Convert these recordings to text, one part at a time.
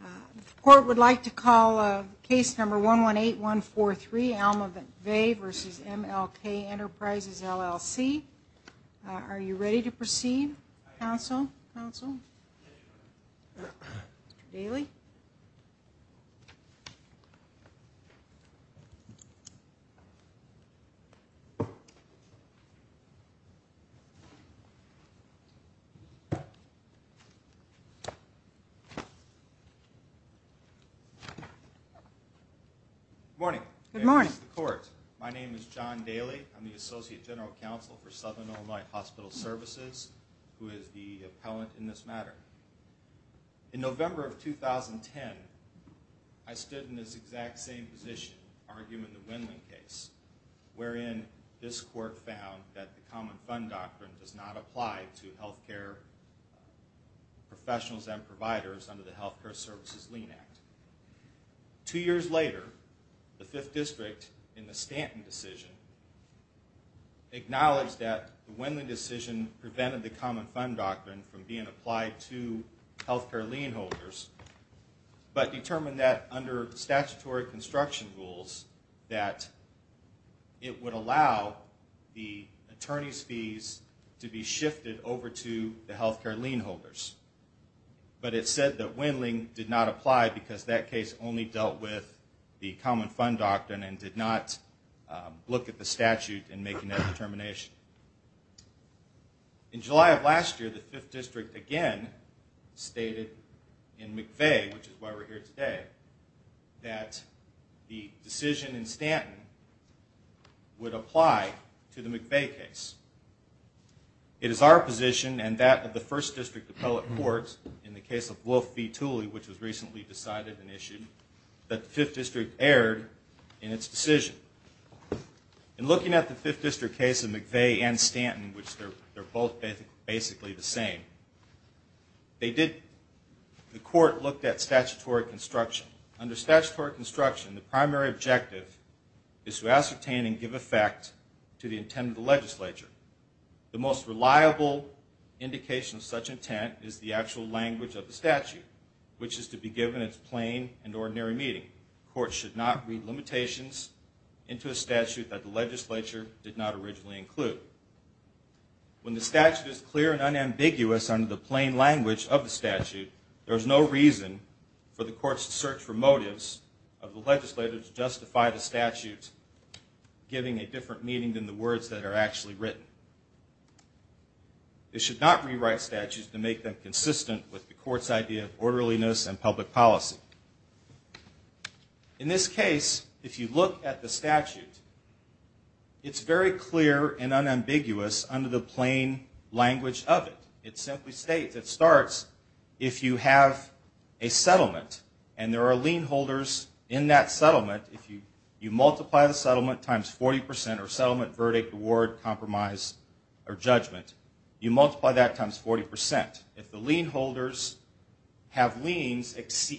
The court would like to call case number 118143, Alma Vey v. M.L.K. Enterprises, L.L.C. Are you ready to proceed, counsel? Good morning. Good morning. My name is John Daly. I'm the Associate General Counsel for Southern Illinois Hospital Services, who is the appellant in this matter. In November of 2010, I stood in this exact same position arguing the Winling case, wherein this court found that the Common Fund Doctrine does not apply to health care professionals and providers under the Health Care Services Lien Act. Two years later, the Fifth District, in the Stanton decision, acknowledged that the Winling decision prevented the Common Fund Doctrine from being applied to health care lien holders, but determined that under statutory construction rules, that it would allow the attorney's fees to be shifted over to the health care lien holders. But it said that Winling did not apply because that case only dealt with the Common Fund Doctrine and did not look at the statute in making that determination. In July of last year, the Fifth District again stated in McVey, which is why we're here today, that the decision in Stanton would apply to the McVey case. It is our position, and that of the First District Appellate Courts, in the case of Wolf v. Tooley, which was recently decided and issued, that the Fifth District erred in its decision. In looking at the Fifth District case of McVey and Stanton, which they're both basically the same, the Court looked at statutory construction. Under statutory construction, the primary objective is to ascertain and give effect to the intent of the legislature. The most reliable indication of such intent is the actual language of the statute, which is to be given at plain and ordinary meeting. Courts should not read limitations into a statute that the legislature did not originally include. When the statute is clear and unambiguous under the plain language of the statute, there is no reason for the courts to search for motives of the legislator to justify the statute giving a different meaning than the words that are actually written. They should not rewrite statutes to make them consistent with the Court's idea of orderliness and public policy. In this case, if you look at the statute, it's very clear and unambiguous under the plain language of it. It simply states, it starts, if you have a settlement and there are lien holders in that settlement, if you multiply the settlement times 40 percent, or settlement, verdict, award, compromise, or judgment, you multiply that times 40 percent. If the lien holders have liens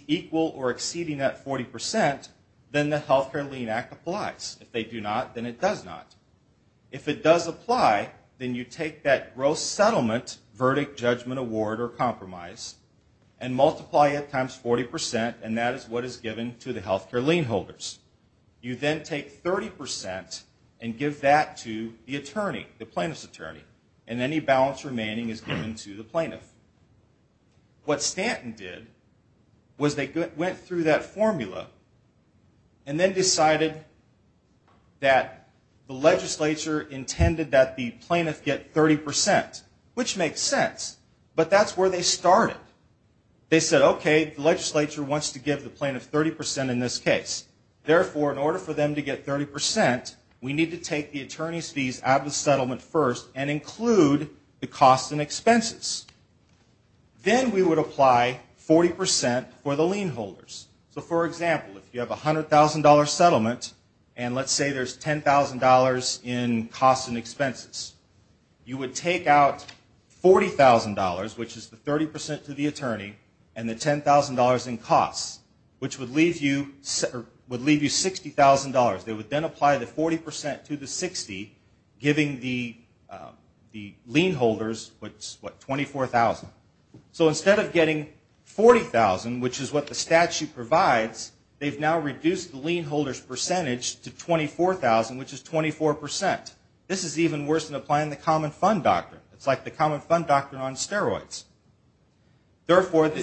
equal or exceeding that 40 percent, then the Health Care Lien Act applies. If they do not, then it does not. If it does apply, then you take that gross settlement, verdict, judgment, award, or compromise, and multiply it times 40 percent, and that is what is given to the health care lien holders. You then take 30 percent and give that to the attorney, the plaintiff's attorney, and any balance remaining is given to the plaintiff. What Stanton did was they went through that formula and then decided that the legislature intended that the plaintiff get 30 percent, which makes sense, but that's where they started. They said, okay, the legislature wants to give the plaintiff 30 percent in this case. Therefore, in order for them to get 30 percent, we need to take the attorney's fees out of the settlement first and include the costs and expenses. Then we would apply 40 percent for the lien holders. For example, if you have a $100,000 settlement and let's say there's $10,000 in costs and expenses, you would take out $40,000, which is the 30 percent to the attorney, and the $10,000 in costs, which would leave you $60,000. They would then apply the 40 percent to the 60, giving the lien holders, what, $24,000. So instead of getting $40,000, which is what the statute provides, they've now reduced the lien holder's percentage to $24,000, which is 24 percent. This is even worse than applying the common fund doctrine. Isn't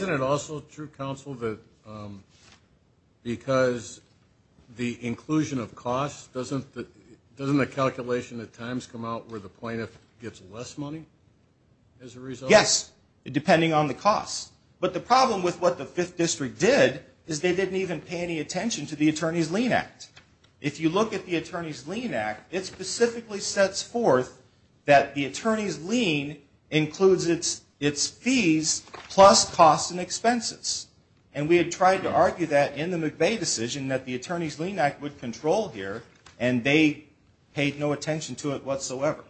it also true, counsel, that because the inclusion of costs, doesn't the calculation at times come out where the plaintiff gets less money as a result? Yes, depending on the costs. But the problem with what the Fifth District did is they didn't even pay any attention to the Attorney's Lien Act. If you look at the Attorney's Lien Act, it specifically sets forth that the Attorney's Lien includes its fees plus costs and expenses. And we had tried to argue that in the McVeigh decision, that the Attorney's Lien Act would control here, and they paid no attention to it whatsoever.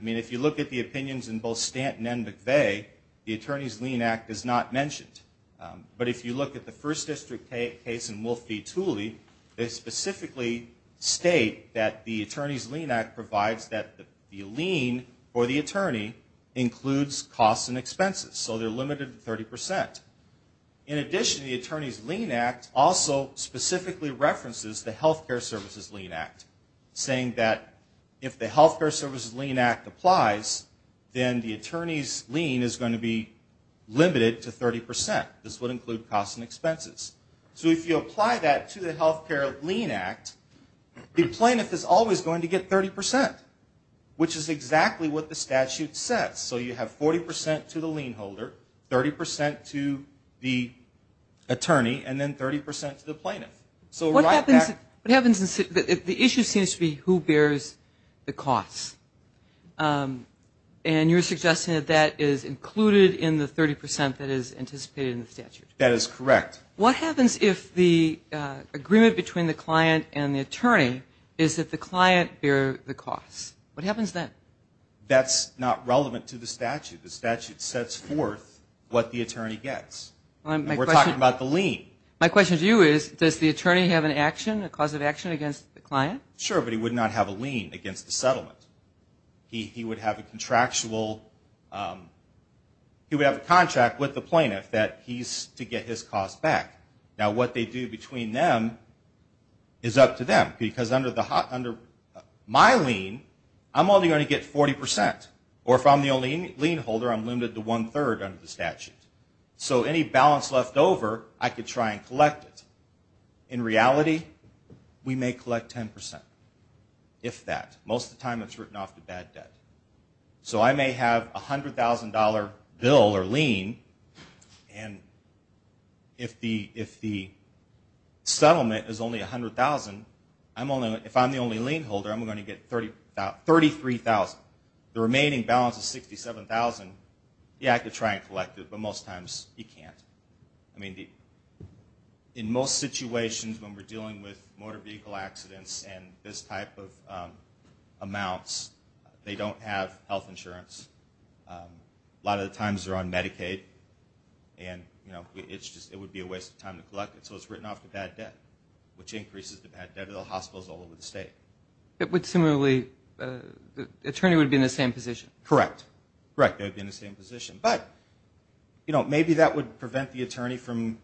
I mean, if you look at the opinions in both Stanton and McVeigh, the Attorney's Lien Act is not mentioned. But if you look at the First District case in Wolf v. Tooley, they specifically state that the Attorney's Lien Act provides that the lien for the attorney includes costs and expenses, so they're limited to 30 percent. In addition, the Attorney's Lien Act also specifically references the Health Care Services Lien Act, saying that if the Health Care Services Lien Act applies, then the attorney's lien is going to be limited to 30 percent. This would include costs and expenses. So if you apply that to the Health Care Lien Act, the plaintiff is always going to get 30 percent, which is exactly what the statute says. So you have 40 percent to the lien holder, 30 percent to the attorney, and then 30 percent to the plaintiff. So right back- What happens if the issue seems to be who bears the costs, and you're suggesting that that is included in the 30 percent that is anticipated in the statute? That is correct. What happens if the agreement between the client and the attorney is that the client bears the costs? What happens then? That's not relevant to the statute. The statute sets forth what the attorney gets. We're talking about the lien. My question to you is, does the attorney have an action, a cause of action against the client? Sure, but he would not have a lien against the settlement. He would have a contractual-he would have a contract with the plaintiff that he's to get his costs back. Now, what they do between them is up to them, because under my lien, I'm only going to get 40 percent. Or if I'm the only lien holder, I'm limited to one-third under the statute. So any balance left over, I could try and collect it. In reality, we may collect 10 percent, if that. Most of the time it's written off to bad debt. So I may have a $100,000 bill or lien, and if the settlement is only $100,000, if I'm the only lien holder, I'm going to get $33,000. The remaining balance is $67,000. Yeah, I could try and collect it, but most times you can't. I mean, in most situations when we're dealing with motor vehicle accidents and this type of amounts, they don't have health insurance. A lot of the times they're on Medicaid, and it would be a waste of time to collect it. So it's written off to bad debt, which increases the bad debt of the hospitals all over the state. But similarly, the attorney would be in the same position. Correct. Correct, they would be in the same position. But, you know, maybe that would prevent the attorney from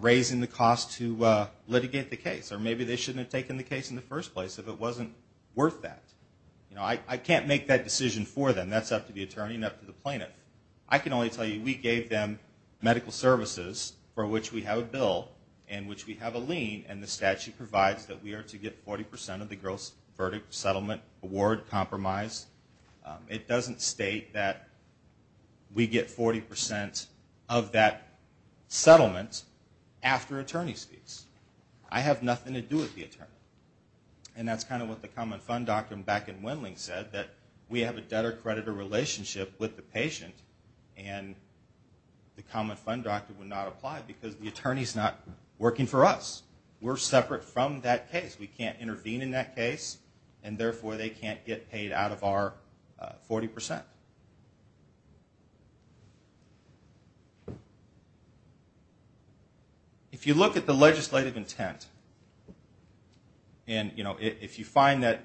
raising the cost to litigate the case, or maybe they shouldn't have taken the case in the first place if it wasn't worth that. You know, I can't make that decision for them. That's up to the attorney and up to the plaintiff. I can only tell you we gave them medical services for which we have a bill and which we have a lien, and the statute provides that we are to get 40 percent of the gross verdict, settlement, award, compromise. It doesn't state that we get 40 percent of that settlement after attorney's fees. I have nothing to do with the attorney. And that's kind of what the Common Fund Doctrine back in Wendling said, that we have a debtor-creditor relationship with the patient, and the Common Fund Doctrine would not apply because the attorney's not working for us. We're separate from that case. We can't intervene in that case, and therefore they can't get paid out of our 40 percent. If you look at the legislative intent, and, you know, if you find that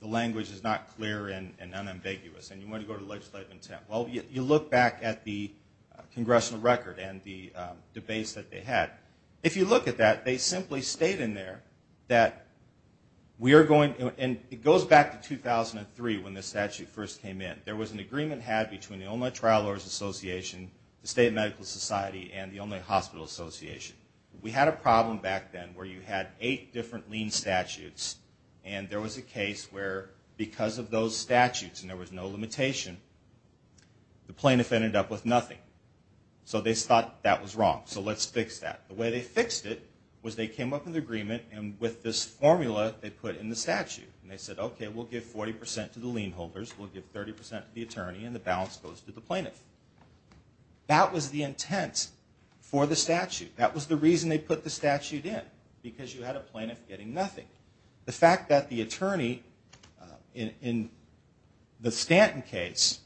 the language is not clear and unambiguous and you want to go to legislative intent, well, you look back at the congressional record and the debates that they had. If you look at that, they simply state in there that we are going to, and it goes back to 2003 when the statute first came in. There was an agreement had between the Illinois Trial Lawyers Association, the State Medical Society, and the Illinois Hospital Association. We had a problem back then where you had eight different lien statutes, and there was a case where because of those statutes, and there was no limitation, the plaintiff ended up with nothing. So they thought that was wrong. So let's fix that. The way they fixed it was they came up with an agreement, and with this formula they put in the statute. And they said, okay, we'll give 40 percent to the lien holders, we'll give 30 percent to the attorney, and the balance goes to the plaintiff. That was the intent for the statute. That was the reason they put the statute in, because you had a plaintiff getting nothing. The fact that the attorney in the Stanton case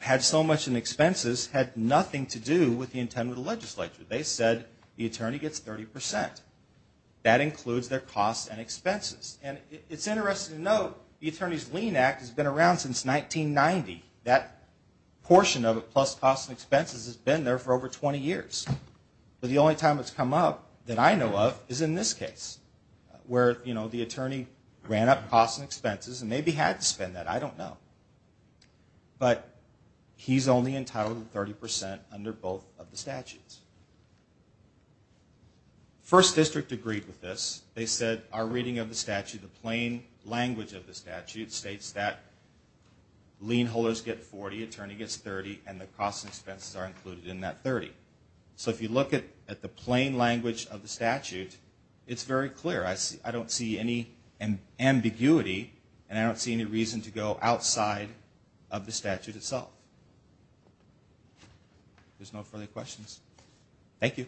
had so much in expenses had nothing to do with the intent of the legislature. They said the attorney gets 30 percent. That includes their costs and expenses. And it's interesting to note the Attorney's Lien Act has been around since 1990. That portion of it, plus costs and expenses, has been there for over 20 years. But the only time it's come up that I know of is in this case, where the attorney ran up costs and expenses and maybe had to spend that. I don't know. But he's only entitled to 30 percent under both of the statutes. First District agreed with this. They said our reading of the statute, the plain language of the statute, states that lien holders get 40, attorney gets 30, and the costs and expenses are included in that 30. So if you look at the plain language of the statute, it's very clear. I don't see any ambiguity, and I don't see any reason to go outside of the statute itself. If there's no further questions. Thank you.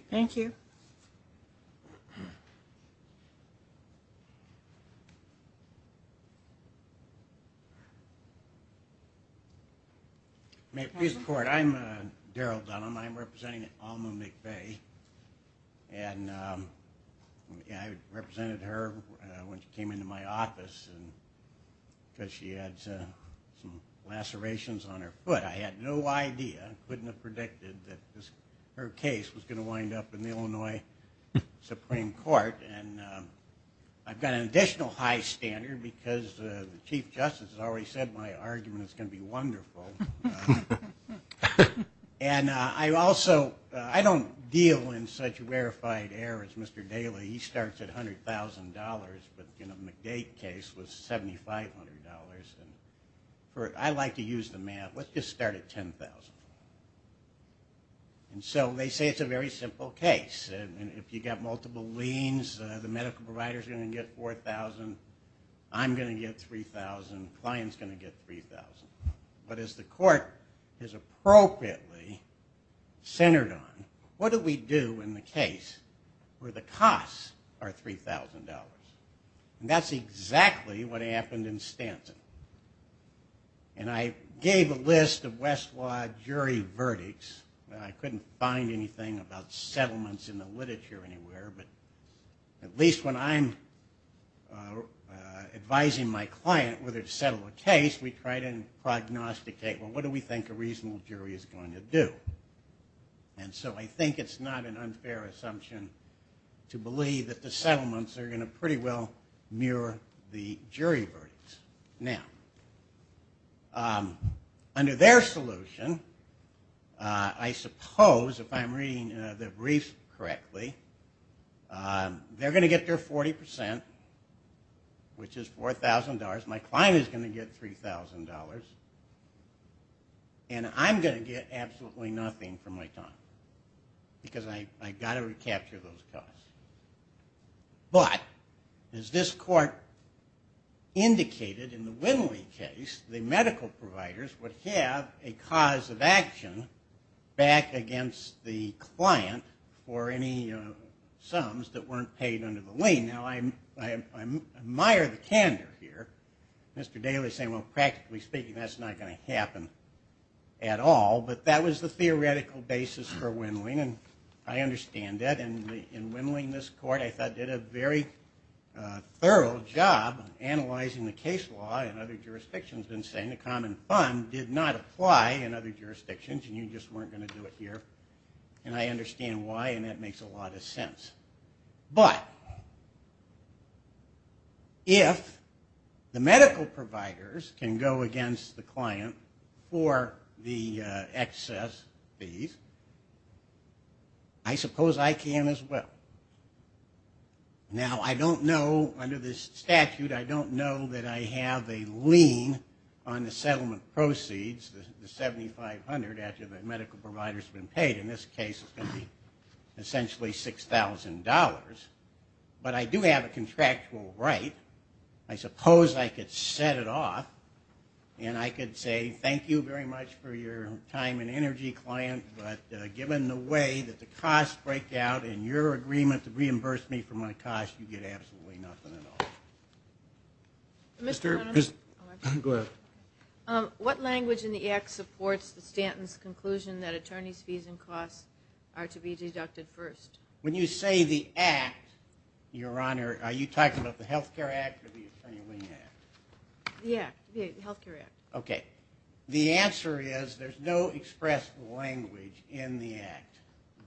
May it please the Court. I'm Daryl Dunham. I'm representing Alma McVeigh. And I represented her when she came into my office because she had some lacerations on her foot. I had no idea, couldn't have predicted, that her case was going to wind up in the Illinois Supreme Court. And I've got an additional high standard because the Chief Justice has already said my argument is going to be wonderful. And I also, I don't deal in such rarefied errors, Mr. Daly. He starts at $100,000, but, you know, McVeigh's case was $7,500. And I like to use the math, let's just start at $10,000. And so they say it's a very simple case. And if you've got multiple liens, the medical provider's going to get $4,000, I'm going to get $3,000, client's going to get $3,000. But as the court is appropriately centered on, what do we do in the case where the costs are $3,000? And that's exactly what happened in Stanton. And I gave a list of Westlaw jury verdicts. I couldn't find anything about settlements in the literature anywhere, but at least when I'm advising my client whether to settle a case, we try to prognosticate, well, what do we think a reasonable jury is going to do? And so I think it's not an unfair assumption to believe that the settlements are going to pretty well mirror the jury verdicts. Now, under their solution, I suppose, if I'm reading the briefs correctly, they're going to get their 40%, which is $4,000. My client is going to get $3,000. And I'm going to get absolutely nothing for my time because I've got to recapture those costs. But as this court indicated in the Winley case, the medical providers would have a cause of action back against the client for any sums that weren't paid under the lien. Now, I admire the candor here. Mr. Daly is saying, well, practically speaking, that's not going to happen at all. But that was the theoretical basis for Winley, and I understand that. And in Winley, this court, I thought, did a very thorough job analyzing the case law in other jurisdictions and saying the common fund did not apply in other jurisdictions and you just weren't going to do it here. And I understand why, and that makes a lot of sense. But if the medical providers can go against the client for the excess fees, I suppose I can as well. Now, I don't know, under this statute, I don't know that I have a lien on the settlement proceeds, the $7,500 after the medical provider has been paid. In this case, it's going to be essentially $6,000. But I do have a contractual right. I suppose I could set it off and I could say thank you very much for your time and energy, client, but given the way that the costs break out in your agreement to reimburse me for my costs, you get absolutely nothing at all. Go ahead. What language in the Act supports the Stanton's conclusion that attorney's fees and costs are to be deducted first? When you say the Act, Your Honor, are you talking about the Health Care Act or the Attorney Wing Act? Yeah, the Health Care Act. Okay. The answer is there's no expressed language in the Act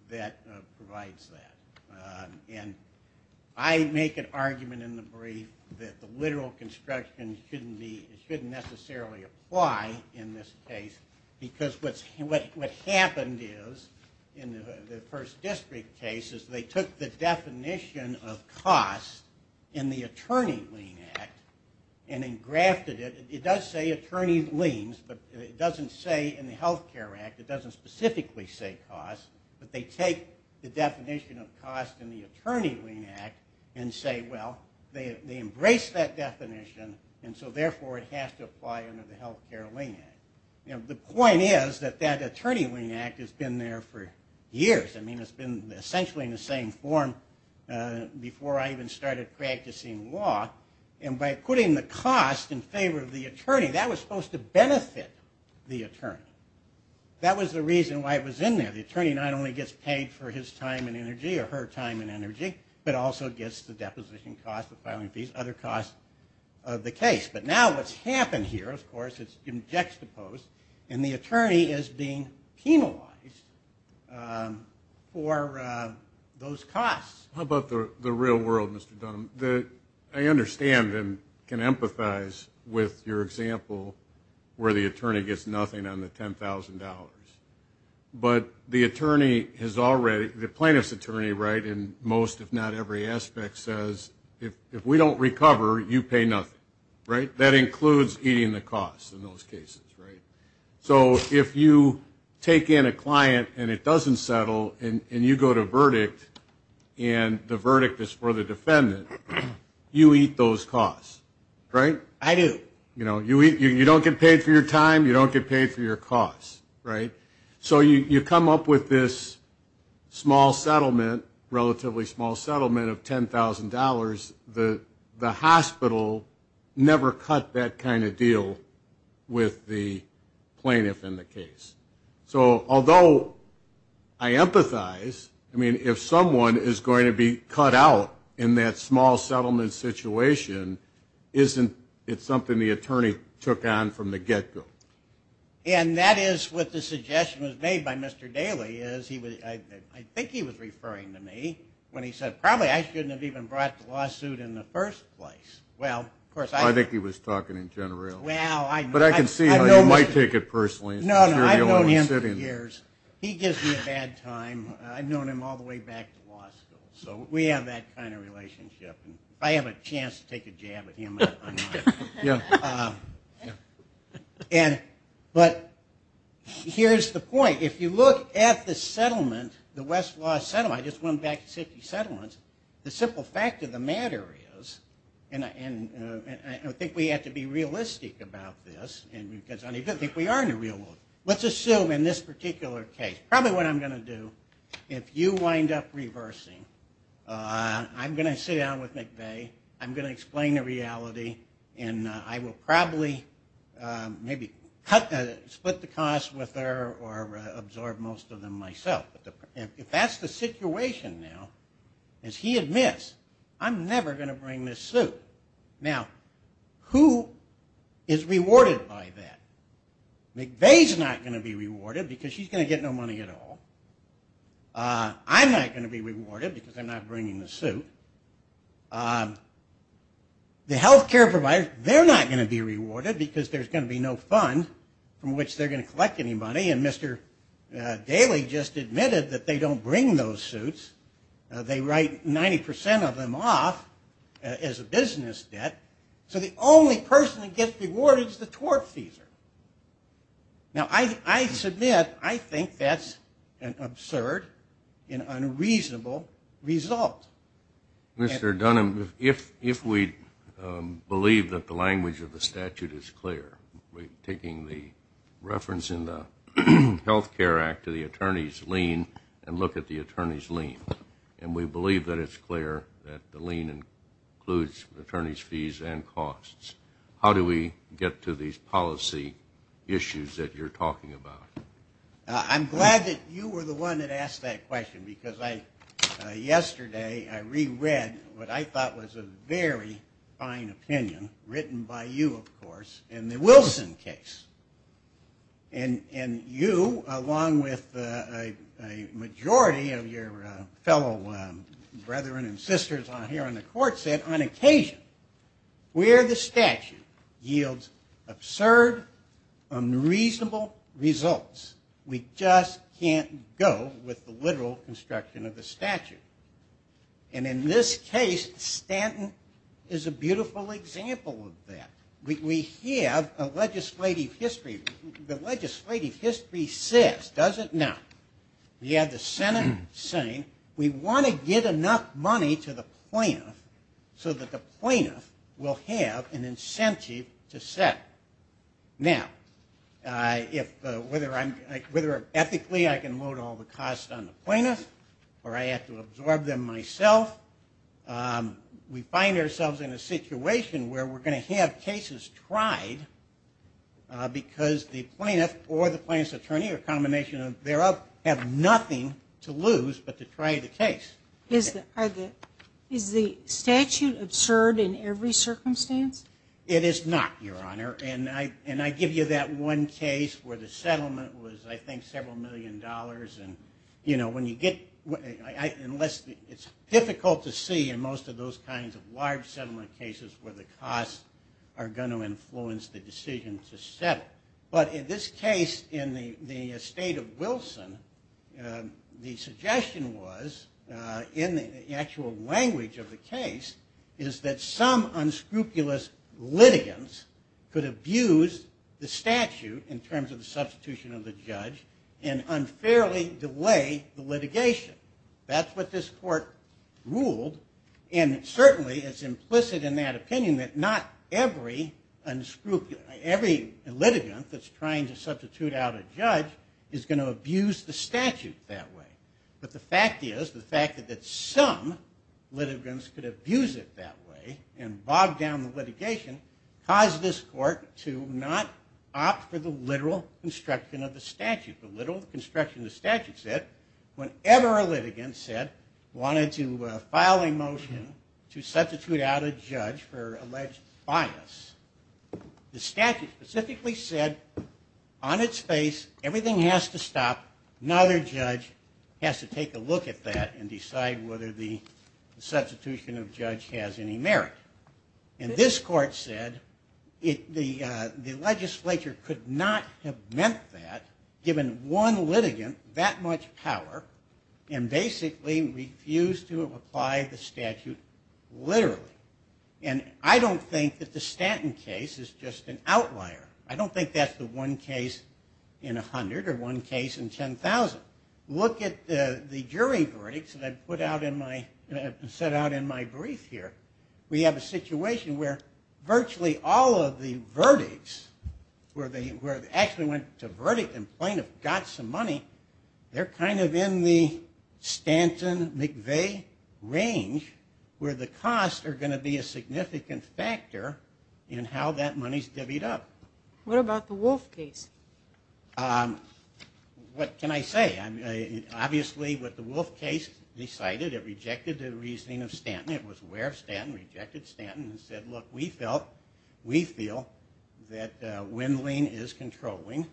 that provides that. And I make an argument in the brief that the literal construction shouldn't necessarily apply in this case because what happened is, in the first district case, is they took the definition of costs in the Attorney Wing Act and then grafted it. It does say attorney liens, but it doesn't say in the Health Care Act, it doesn't specifically say costs, but they take the definition of costs in the Attorney Wing Act and say, well, they embrace that definition and so therefore it has to apply under the Health Care Wing Act. The point is that that Attorney Wing Act has been there for years. I mean, it's been essentially in the same form before I even started practicing law. And by putting the cost in favor of the attorney, that was supposed to benefit the attorney. That was the reason why it was in there. The attorney not only gets paid for his time and energy or her time and energy, but also gets the deposition cost, the filing fees, other costs of the case. But now what's happened here, of course, it's been juxtaposed, and the attorney is being penalized for those costs. How about the real world, Mr. Dunham? I understand and can empathize with your example where the attorney gets nothing on the $10,000. But the plaintiff's attorney in most, if not every aspect, says, if we don't recover, you pay nothing. That includes eating the costs in those cases. So if you take in a client and it doesn't settle and you go to verdict and the verdict is for the defendant, you eat those costs. I do. You don't get paid for your time. You don't get paid for your costs. So you come up with this small settlement, relatively small settlement of $10,000. The hospital never cut that kind of deal with the plaintiff in the case. Although I empathize, if someone is going to be cut out in that small settlement situation, isn't it something the attorney took on from the get-go? And that is what the suggestion was made by Mr. Daley. I think he was referring to me when he said, probably I shouldn't have even brought the lawsuit in the first place. I think he was talking in general. But I can see how you might take it personally. No, no, I've known him for years. He gives me a bad time. I've known him all the way back to law school. So we have that kind of relationship. If I have a chance to take a jab at him, I might. But here's the point. If you look at the settlement, the Westlaw settlement, I just went back to city settlements, the simple fact of the matter is, and I think we have to be realistic about this, because I don't even think we are in the real world. Let's assume in this particular case, probably what I'm going to do, if you wind up reversing, I'm going to sit down with McVeigh, I'm going to explain the reality, and I will probably maybe split the cost with her or absorb most of them myself. If that's the situation now, as he admits, I'm never going to bring this suit. Now, who is rewarded by that? McVeigh is not going to be rewarded because she's going to get no money at all. I'm not going to be rewarded because I'm not bringing the suit. The health care providers, they're not going to be rewarded because there's going to be no fund from which they're going to collect any money. And Mr. Daley just admitted that they don't bring those suits. They write 90% of them off as a business debt. So the only person that gets rewarded is the tort fees. Now, I submit, I think that's an absurd and unreasonable result. Mr. Dunham, if we believe that the language of the statute is clear, taking the reference in the Health Care Act to the attorney's lien and look at the attorney's lien, and we believe that it's clear that the lien includes attorney's fees and costs, how do we get to these policy issues that you're talking about? I'm glad that you were the one that asked that question because yesterday I reread what I thought was a very fine opinion, written by you, of course, in the Wilson case. And you, along with a majority of your fellow brethren and sisters here on the court, said on occasion, where the statute yields absurd, unreasonable results, we just can't go with the literal construction of the statute. And in this case, Stanton is a beautiful example of that. We have a legislative history. The legislative history says, does it? Now, we have the Senate saying we want to get enough money to the plaintiff so that the plaintiff will have an incentive to settle. Now, whether ethically I can load all the costs on the plaintiff or I have to absorb them myself, we find ourselves in a situation where we're going to have cases tried because the plaintiff or the plaintiff's attorney, or a combination thereof, have nothing to lose but to try the case. Is the statute absurd in every circumstance? It is not, Your Honor. And I give you that one case where the settlement was, I think, several million dollars. It's difficult to see in most of those kinds of large settlement cases where the costs are going to influence the decision to settle. But in this case, in the estate of Wilson, the suggestion was, in the actual language of the case, is that some unscrupulous litigants could abuse the statute in terms of the substitution of the judge and unfairly delay the litigation. That's what this court ruled, and certainly it's implicit in that opinion that not every litigant that's trying to substitute out a judge is going to abuse the statute that way. But the fact is, the fact that some litigants could abuse it that way and bog down the litigation caused this court to not opt for the literal construction of the statute. The literal construction of the statute said, whenever a litigant said, wanted to file a motion to substitute out a judge for alleged bias, the statute specifically said, on its face, everything has to stop. Another judge has to take a look at that and decide whether the substitution of judge has any merit. And this court said the legislature could not have meant that given one litigant that much power and basically refused to apply the statute literally. And I don't think that the Stanton case is just an outlier. I don't think that's the one case in 100 or one case in 10,000. But look at the jury verdicts that I put out in my, set out in my brief here. We have a situation where virtually all of the verdicts where they actually went to verdict and plaintiff got some money, they're kind of in the Stanton-McVeigh range where the costs are going to be a significant factor in how that money's divvied up. What about the Wolf case? What can I say? Obviously what the Wolf case decided, it rejected the reasoning of Stanton. It was aware of Stanton, rejected Stanton, and said, look, we feel that Wendling is controlling.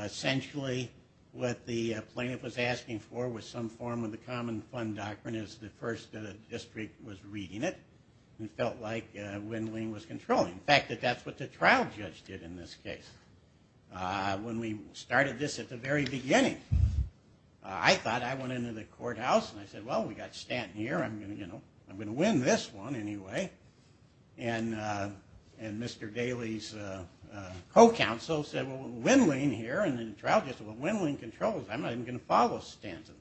Essentially what the plaintiff was asking for was some form of the common fund doctrine as the first district was reading it and felt like Wendling was controlling. In fact, that's what the trial judge did in this case. When we started this at the very beginning, I thought I went into the courthouse and I said, well, we got Stanton here, I'm going to win this one anyway. And Mr. Daly's co-counsel said, well, Wendling here, and the trial judge said, well, Wendling controls. I'm not even going to follow Stanton.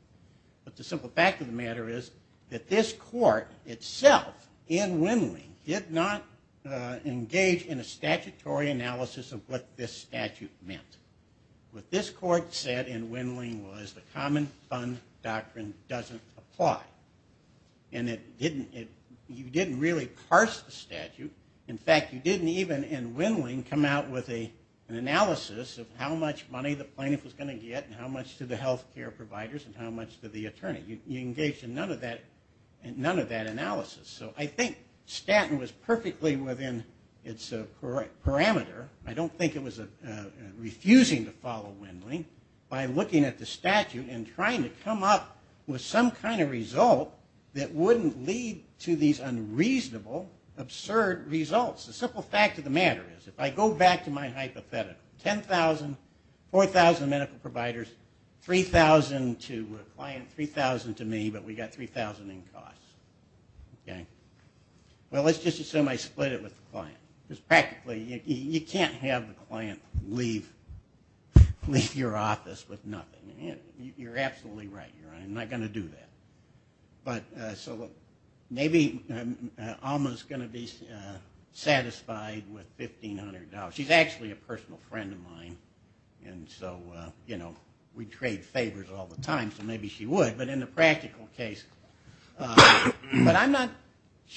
But the simple fact of the matter is that this court itself in Wendling did not engage in a statutory analysis of what this statute meant. What this court said in Wendling was the common fund doctrine doesn't apply. And you didn't really parse the statute. In fact, you didn't even in Wendling come out with an analysis of how much money the plaintiff was going to get and how much to the health care providers and how much to the attorney. You engaged in none of that analysis. So I think Stanton was perfectly within its parameter. I don't think it was refusing to follow Wendling by looking at the statute and trying to come up with some kind of result that wouldn't lead to these unreasonable, absurd results. The simple fact of the matter is, if I go back to my hypothetical, 10,000, 4,000 medical providers, 3,000 to a client, 3,000 to me, but we've got 3,000 in costs. Well, let's just assume I split it with the client. Because practically, you can't have the client leave your office with nothing. You're absolutely right. I'm not going to do that. So maybe Alma's going to be satisfied with $1,500. She's actually a personal friend of mine, and so we trade favors all the time, so maybe she would. But in the practical case, but I'm not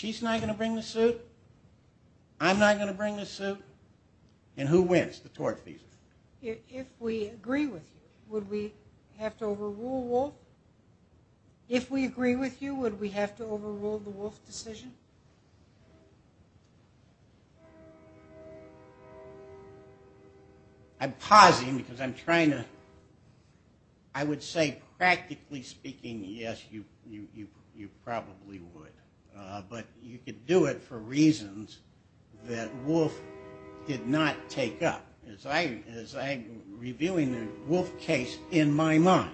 going to bring the suit. I'm not going to bring the suit. And who wins? The tort fees. If we agree with you, would we have to overrule Wolf? If we agree with you, would we have to overrule the Wolf decision? I'm pausing because I'm trying to – I would say practically speaking, yes, you probably would. But you could do it for reasons that Wolf did not take up. As I'm reviewing the Wolf case in my mind,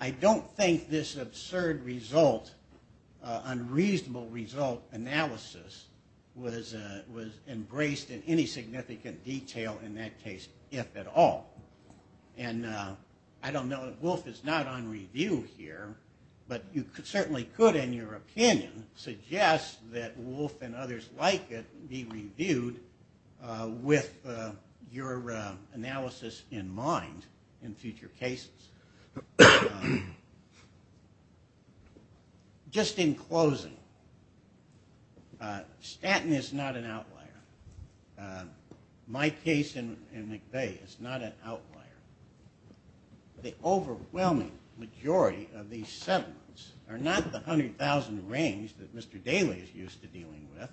I don't think this absurd result, unreasonable result analysis, was embraced in any significant detail in that case, if at all. And I don't know if Wolf is not on review here, but you certainly could, in your opinion, suggest that Wolf and others like it be reviewed with your analysis in mind in future cases. Just in closing, Stanton is not an outlier. My case in McVeigh is not an outlier. The overwhelming majority of these settlements are not the 100,000 range that Mr. Daley is used to dealing with.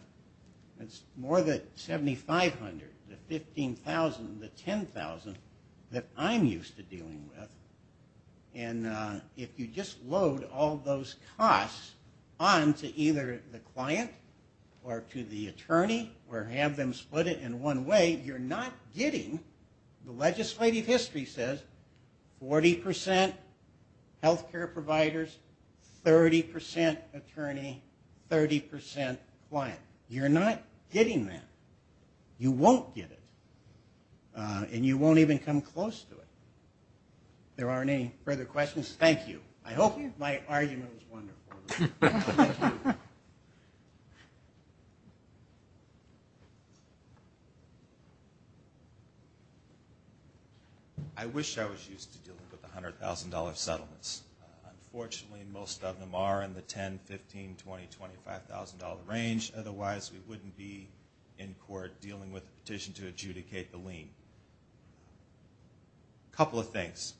It's more the 7,500, the 15,000, the 10,000 that I'm used to dealing with. And if you just load all those costs onto either the client or to the attorney or have them split it in one way, you're not getting – the legislative history says 40% healthcare providers, 30% attorney, 30% client. You're not getting that. You won't get it. And you won't even come close to it. If there aren't any further questions, thank you. I hope my argument was wonderful. Thank you. I wish I was used to dealing with the $100,000 settlements. Unfortunately, most of them are in the 10, 15, 20, 20, $5,000 range. Otherwise, we wouldn't be in court dealing with a petition to adjudicate the lien. A couple of things.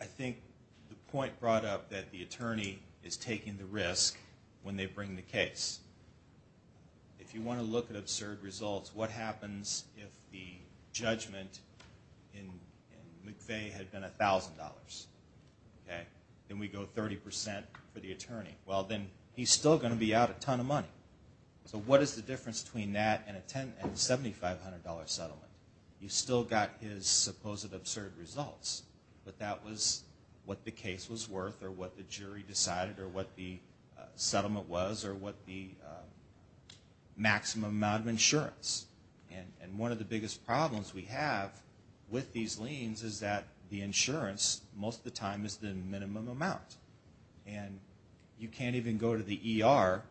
I think the point brought up that the attorney is taking the risk when they bring the case. If you want to look at absurd results, what happens if the judgment in McVeigh had been $1,000? Then we go 30% for the attorney. Well, then he's still going to be out a ton of money. So what is the difference between that and a $7,500 settlement? You've still got his supposed absurd results. But that was what the case was worth or what the jury decided or what the settlement was or what the maximum amount of insurance. And one of the biggest problems we have with these liens is that the insurance most of the time is the minimum amount. And you can't even go to the ER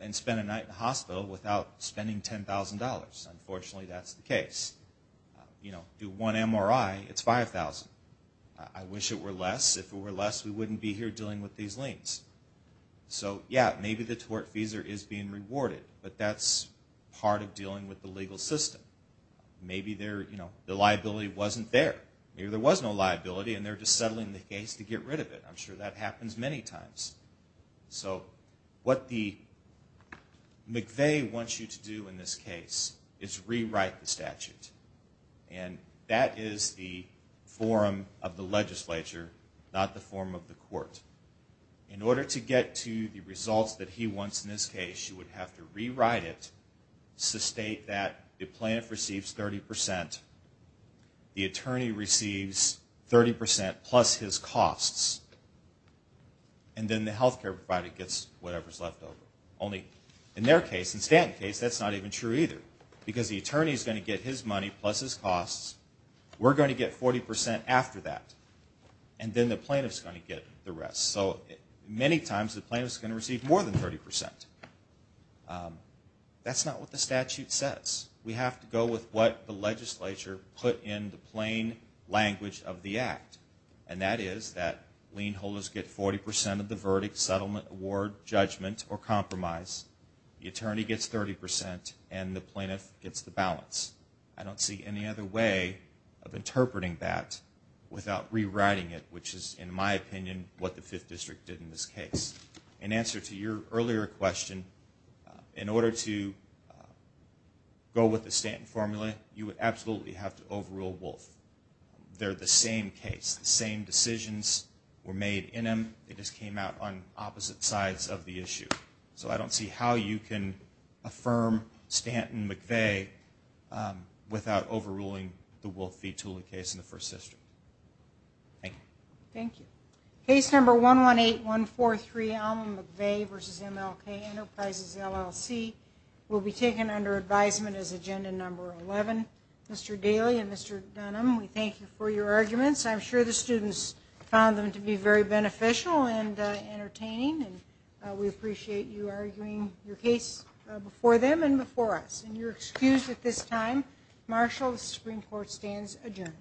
and spend a night in the hospital without spending $10,000. Unfortunately, that's the case. Do one MRI, it's $5,000. I wish it were less. If it were less, we wouldn't be here dealing with these liens. So, yeah, maybe the tortfeasor is being rewarded, but that's part of dealing with the legal system. Maybe the liability wasn't there. Maybe there was no liability, and they're just settling the case to get rid of it. I'm sure that happens many times. So what McVeigh wants you to do in this case is rewrite the statute. And that is the forum of the legislature, not the forum of the court. In order to get to the results that he wants in this case, you would have to rewrite it, so state that the plaintiff receives 30%, the attorney receives 30% plus his costs, and then the health care provider gets whatever's left over. Only in their case, in Stanton's case, that's not even true either, because the attorney is going to get his money plus his costs. We're going to get 40% after that, and then the plaintiff is going to get the rest. So many times the plaintiff is going to receive more than 30%. That's not what the statute says. We have to go with what the legislature put in the plain language of the Act, and that is that lien holders get 40% of the verdict, settlement, award, judgment, or compromise, the attorney gets 30%, and the plaintiff gets the balance. I don't see any other way of interpreting that without rewriting it, which is, in my opinion, what the Fifth District did in this case. In answer to your earlier question, in order to go with the Stanton formula, you would absolutely have to overrule Wolfe. They're the same case. The same decisions were made in them. They just came out on opposite sides of the issue. So I don't see how you can affirm Stanton McVeigh without overruling the Wolfe v. Tooling case in the First District. Thank you. Thank you. Case number 118143, Alma McVeigh v. MLK Enterprises, LLC, will be taken under advisement as agenda number 11. Mr. Daley and Mr. Dunham, we thank you for your arguments. I'm sure the students found them to be very beneficial and entertaining, and we appreciate you arguing your case before them and before us. And you're excused at this time. Martial, the Supreme Court stands adjourned.